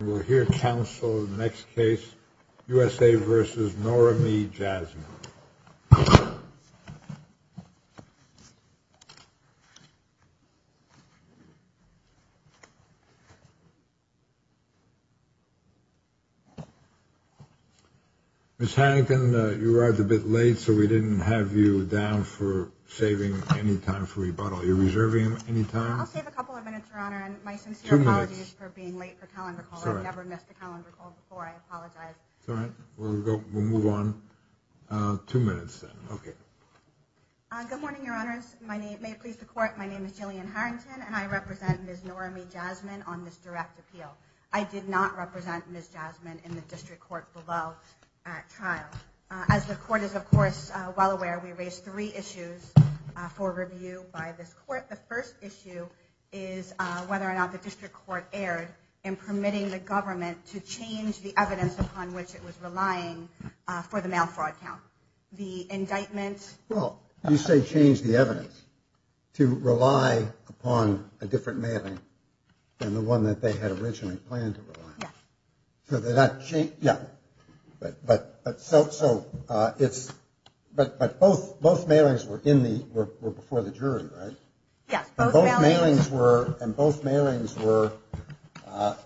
We'll hear counsel in the next case, U.S.A. v. Noramie Jasmin. Ms. Hannigan, you arrived a bit late, so we didn't have you down for saving any time for rebuttal. Are you reserving any time? I'll save a couple of minutes, Your Honor, and my sincere apologies for being late for calendar call. I've never missed a calendar call before. I apologize. It's all right. We'll move on. Two minutes, then. Okay. Good morning, Your Honors. May it please the Court, my name is Jillian Harrington, and I represent Ms. Noramie Jasmin on this direct appeal. I did not represent Ms. Jasmin in the district court below trial. As the Court is, of course, well aware, we raised three issues for review by this Court. The first issue is whether or not the district court erred in permitting the government to change the evidence upon which it was relying for the mail fraud count. The indictment. Well, you say change the evidence to rely upon a different mailing than the one that they had originally planned to rely on. So they're not changing, yeah. But so it's, but both mailings were in the, were before the jury, right? Yes. Both mailings were, and both mailings were a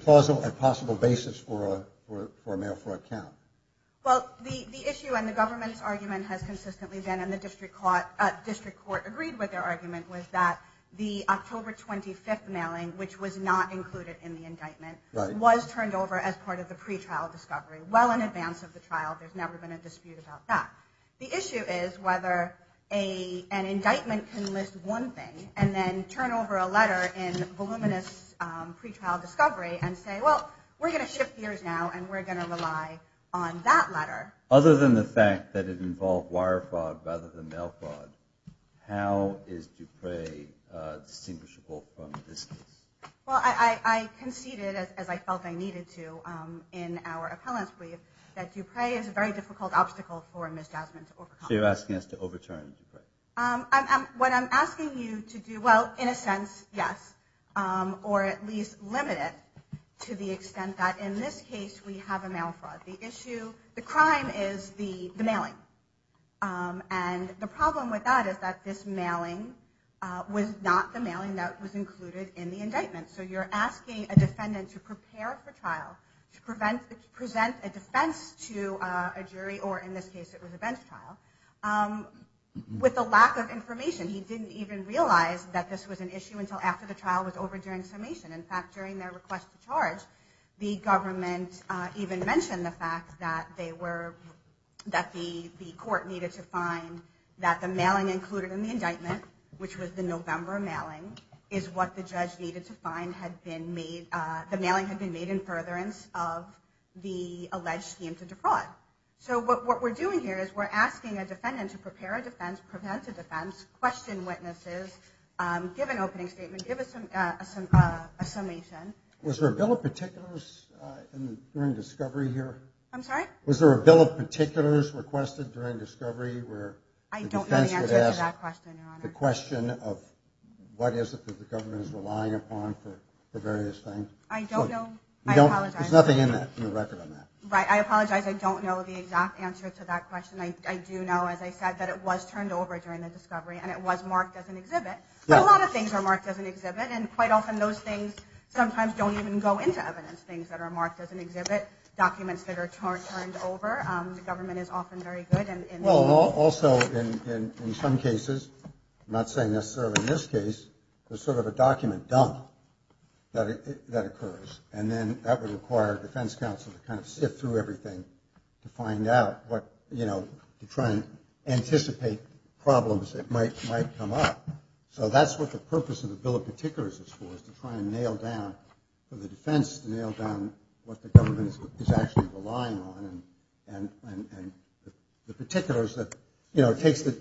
plausible and possible basis for a mail fraud count. Well, the issue and the government's argument has consistently been, and the district court agreed with their argument, was that the October 25th mailing, which was not included in the indictment, was turned over as part of the pretrial discovery, well in advance of the trial. There's never been a dispute about that. The issue is whether an indictment can list one thing and then turn over a letter in voluminous pretrial discovery and say, well, we're going to shift gears now and we're going to rely on that letter. Other than the fact that it involved wire fraud rather than mail fraud, how is Dupre distinguishable from this case? Well, I conceded, as I felt I needed to, in our appellant's brief, that Dupre is a very difficult obstacle for Ms. Jasmine to overcome. So you're asking us to overturn Dupre? What I'm asking you to do, well, in a sense, yes, or at least limit it to the extent that in this case we have a mail fraud. The crime is the mailing. And the problem with that is that this mailing was not the mailing that was included in the indictment. So you're asking a defendant to prepare for trial, to present a defense to a jury, or in this case it was a bench trial, with a lack of information. He didn't even realize that this was an issue until after the trial was over during summation. In fact, during their request to charge, the government even mentioned the fact that they were, that the court needed to find that the mailing included in the indictment, which was the November mailing, is what the judge needed to find had been made, the mailing had been made in furtherance of the alleged scheme to Dupre. So what we're doing here is we're asking a defendant to prepare a defense, present a defense, question witnesses, give an opening statement, give us a summation. Was there a bill of particulars during discovery here? I'm sorry? Was there a bill of particulars requested during discovery where the defense would ask the question of what is it that the government is relying upon for various things? I don't know. There's nothing in the record on that. Right, I apologize. I don't know the exact answer to that question. I do know, as I said, that it was turned over during the discovery, and it was marked as an exhibit. But a lot of things are marked as an exhibit, and quite often those things sometimes don't even go into evidence. Things that are marked as an exhibit, documents that are turned over, the government is often very good in... Well, also, in some cases, I'm not saying necessarily in this case, there's sort of a document dump that occurs. And then that would require a defense counsel to kind of sift through everything to find out what, you know, to try and anticipate problems that might come up. So that's what the purpose of the bill of particulars is for, is to try and nail down, for the defense to nail down what the government is actually relying on. And the particulars that, you know, it takes the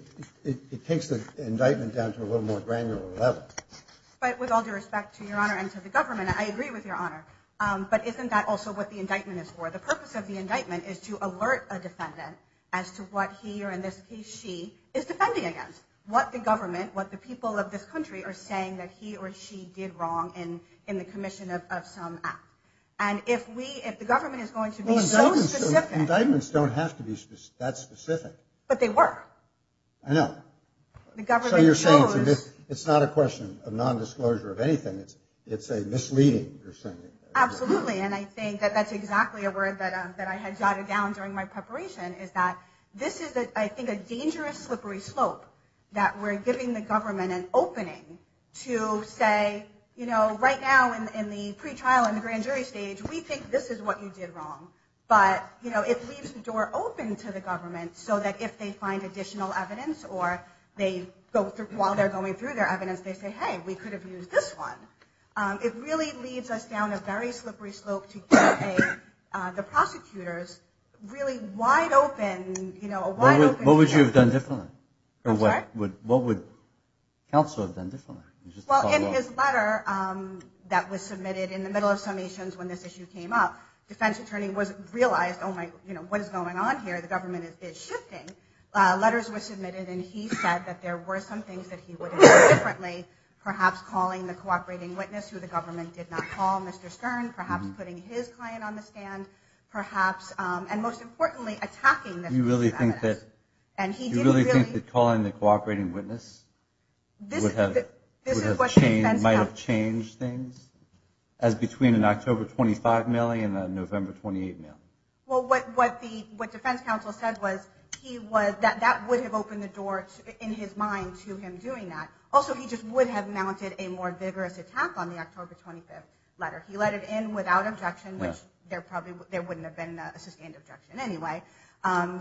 indictment down to a little more granular level. But with all due respect to your honor and to the government, I agree with your honor. But isn't that also what the indictment is for? The purpose of the indictment is to alert a defendant as to what he or, in this case, she is defending against. What the government, what the people of this country are saying that he or she did wrong in the commission of some act. And if we, if the government is going to be so specific... Indictments don't have to be that specific. But they were. I know. So you're saying it's not a question of nondisclosure of anything. It's a misleading. Absolutely. And I think that that's exactly a word that I had jotted down during my preparation is that this is, I think, a dangerous, slippery slope that we're giving the government an opening to say, you know, right now in the pretrial and the grand jury stage, we think this is what you did wrong. But, you know, it leaves the door open to the government so that if they find additional evidence or they go through, while they're going through their evidence, they say, hey, we could have used this one. It really leads us down a very slippery slope to get the prosecutors really wide open, you know, a wide open... What would you have done differently? I'm sorry? What would counsel have done differently? Well, in his letter that was submitted in the middle of summations when this issue came up, defense attorney realized, oh, my, you know, what is going on here? The government is shifting. Letters were submitted, and he said that there were some things that he would have done differently, perhaps calling the cooperating witness, who the government did not call, Mr. Stern, perhaps putting his client on the stand, perhaps, and most importantly, attacking this... You really think that calling the cooperating witness would have... ...might have changed things as between an October 25 mailing and a November 28 mail? Well, what defense counsel said was that that would have opened the door in his mind to him doing that. Also, he just would have mounted a more vigorous attack on the October 25 letter. He let it in without objection, which there probably wouldn't have been a sustained objection anyway.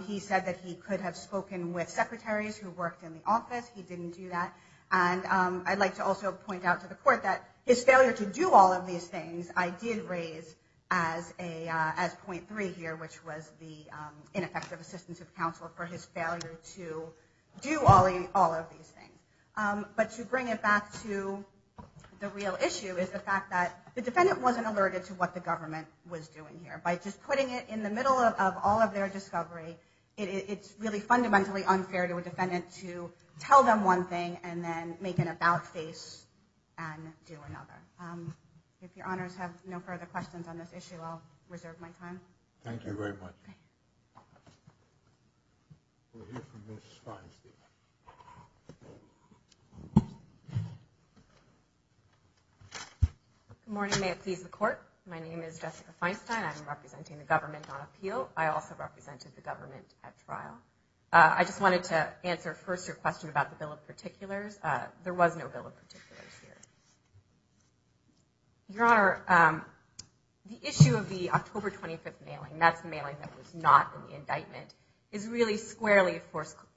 He said that he could have spoken with secretaries who worked in the office. He didn't do that. And I'd like to also point out to the court that his failure to do all of these things I did raise as point three here, which was the ineffective assistance of counsel for his failure to do all of these things. But to bring it back to the real issue is the fact that the defendant wasn't alerted to what the government was doing here. By just putting it in the middle of all of their discovery, it's really fundamentally unfair to a defendant to tell them one thing and then make an about face and do another. If your honors have no further questions on this issue, I'll reserve my time. Thank you very much. We'll hear from Ms. Feinstein. Good morning. May it please the court. My name is Jessica Feinstein. I'm representing the government on appeal. I also represented the government at trial. I just wanted to answer first your question about the bill of particulars. There was no bill of particulars here. Your honor, the issue of the October 25th mailing, that's the mailing that was not in the indictment, is really squarely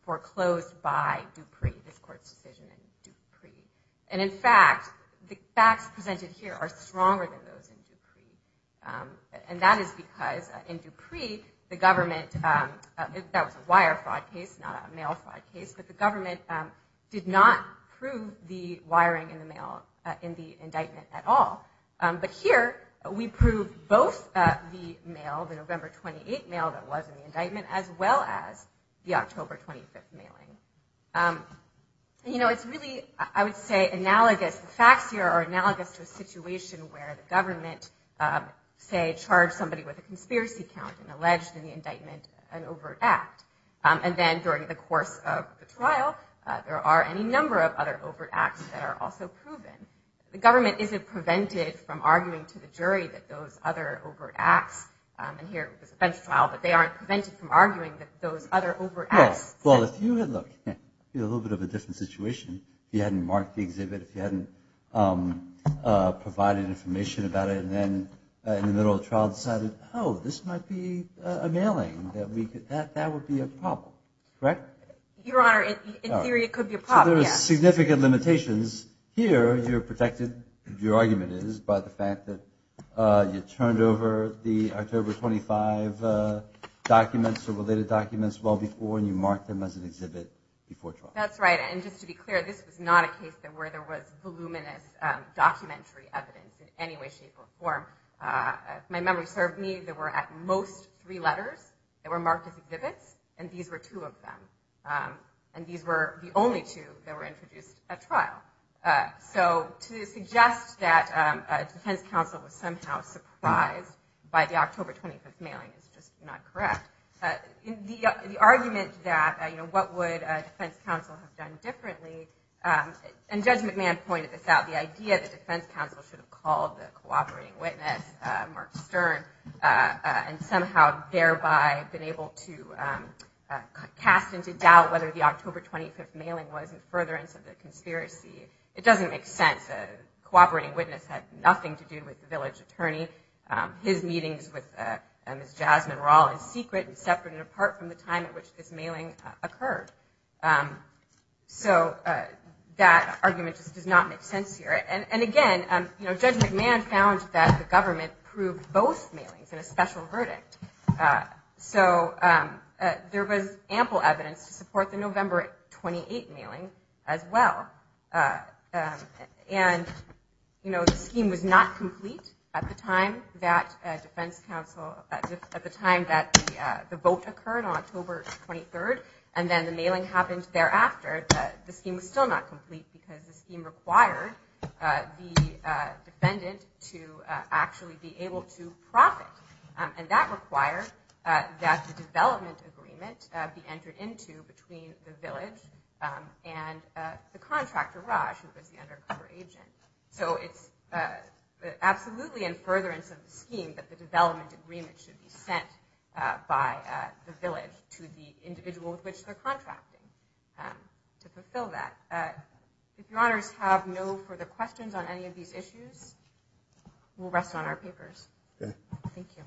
foreclosed by Dupree, this court's decision in Dupree. And in fact, the facts presented here are stronger than those in Dupree. And that is because in Dupree, the government, that was a wire fraud case, not a mail fraud case, but the government did not prove the wiring in the mail in the indictment at all. But here, we proved both the mail, the November 28th mail that was in the indictment, as well as the October 25th mailing. You know, it's really, I would say, analogous, the facts here are analogous to a situation where the government, say, charged somebody with a conspiracy count and alleged in the indictment an overt act. And then during the course of the trial, there are any number of other overt acts that are also proven. The government isn't prevented from arguing to the jury that those other overt acts, and here it was a bench trial, but they aren't prevented from arguing that those other overt acts. Well, if you had looked at a little bit of a different situation, if you hadn't marked the exhibit, if you hadn't provided information about it, and then in the middle of the trial decided, oh, this might be a mailing, that would be a problem, correct? Your Honor, in theory, it could be a problem, yes. So there are significant limitations. Here, you're protected, your argument is, by the fact that you turned over the October 25th documents or related documents well before and you marked them as an exhibit before trial. That's right, and just to be clear, this was not a case where there was voluminous documentary evidence in any way, shape, or form. If my memory served me, there were at most three letters that were marked as exhibits, and these were two of them. And these were the only two that were introduced at trial. So to suggest that a defense counsel was somehow surprised by the October 25th mailing is just not correct. The argument that what would a defense counsel have done differently, and Judge McMahon pointed this out, the idea that defense counsel should have called the cooperating witness, Mark Stern, and somehow thereby been able to cast into doubt whether the October 25th mailing was in furtherance of the conspiracy, it doesn't make sense. A cooperating witness had nothing to do with the village attorney. His meetings with Ms. Jasmine were all in secret and separate and apart from the time at which this mailing occurred. So that argument just does not make sense here. And again, Judge McMahon found that the government proved both mailings in a special verdict. So there was ample evidence to support the November 28th mailing as well. And the scheme was not complete at the time that the vote occurred on October 23rd, and then the mailing happened thereafter. The scheme was still not complete because the scheme required the defendant to actually be able to profit. And that required that the development agreement be entered into between the village and the contractor, Raj, who was the undercover agent. So it's absolutely in furtherance of the scheme that the development agreement should be sent by the village to the individual who was the undercover agent. If your honors have no further questions on any of these issues, we'll rest on our papers. Thank you.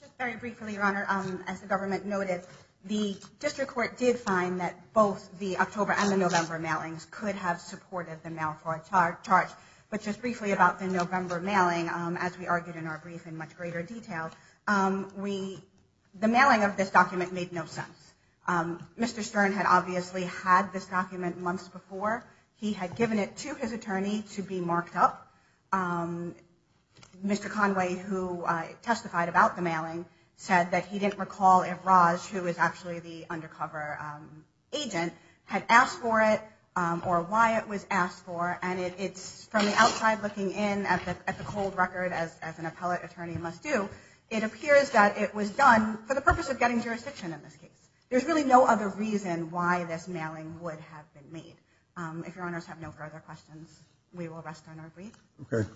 Just very briefly, your honor, as the government noted, the district court did find that both the October and the November mailings could have supported the mail fraud charge. But just briefly about the November mailing, as we argued in our brief in much greater detail, the mailing of this document made no sense. Mr. Stern had obviously had this document months before. He had given it to his attorney to be marked up. Mr. Conway, who testified about the mailing, said that he didn't recall if Raj, who was actually the undercover agent, had asked for it or why it was asked for. And it's from the outside looking in at the cold record, as an appellate attorney must do, it appears that it was done for the purpose of getting jurisdiction in this case. There's really no other reason why this mailing would have been made. If your honors have no further questions, we will rest on our brief.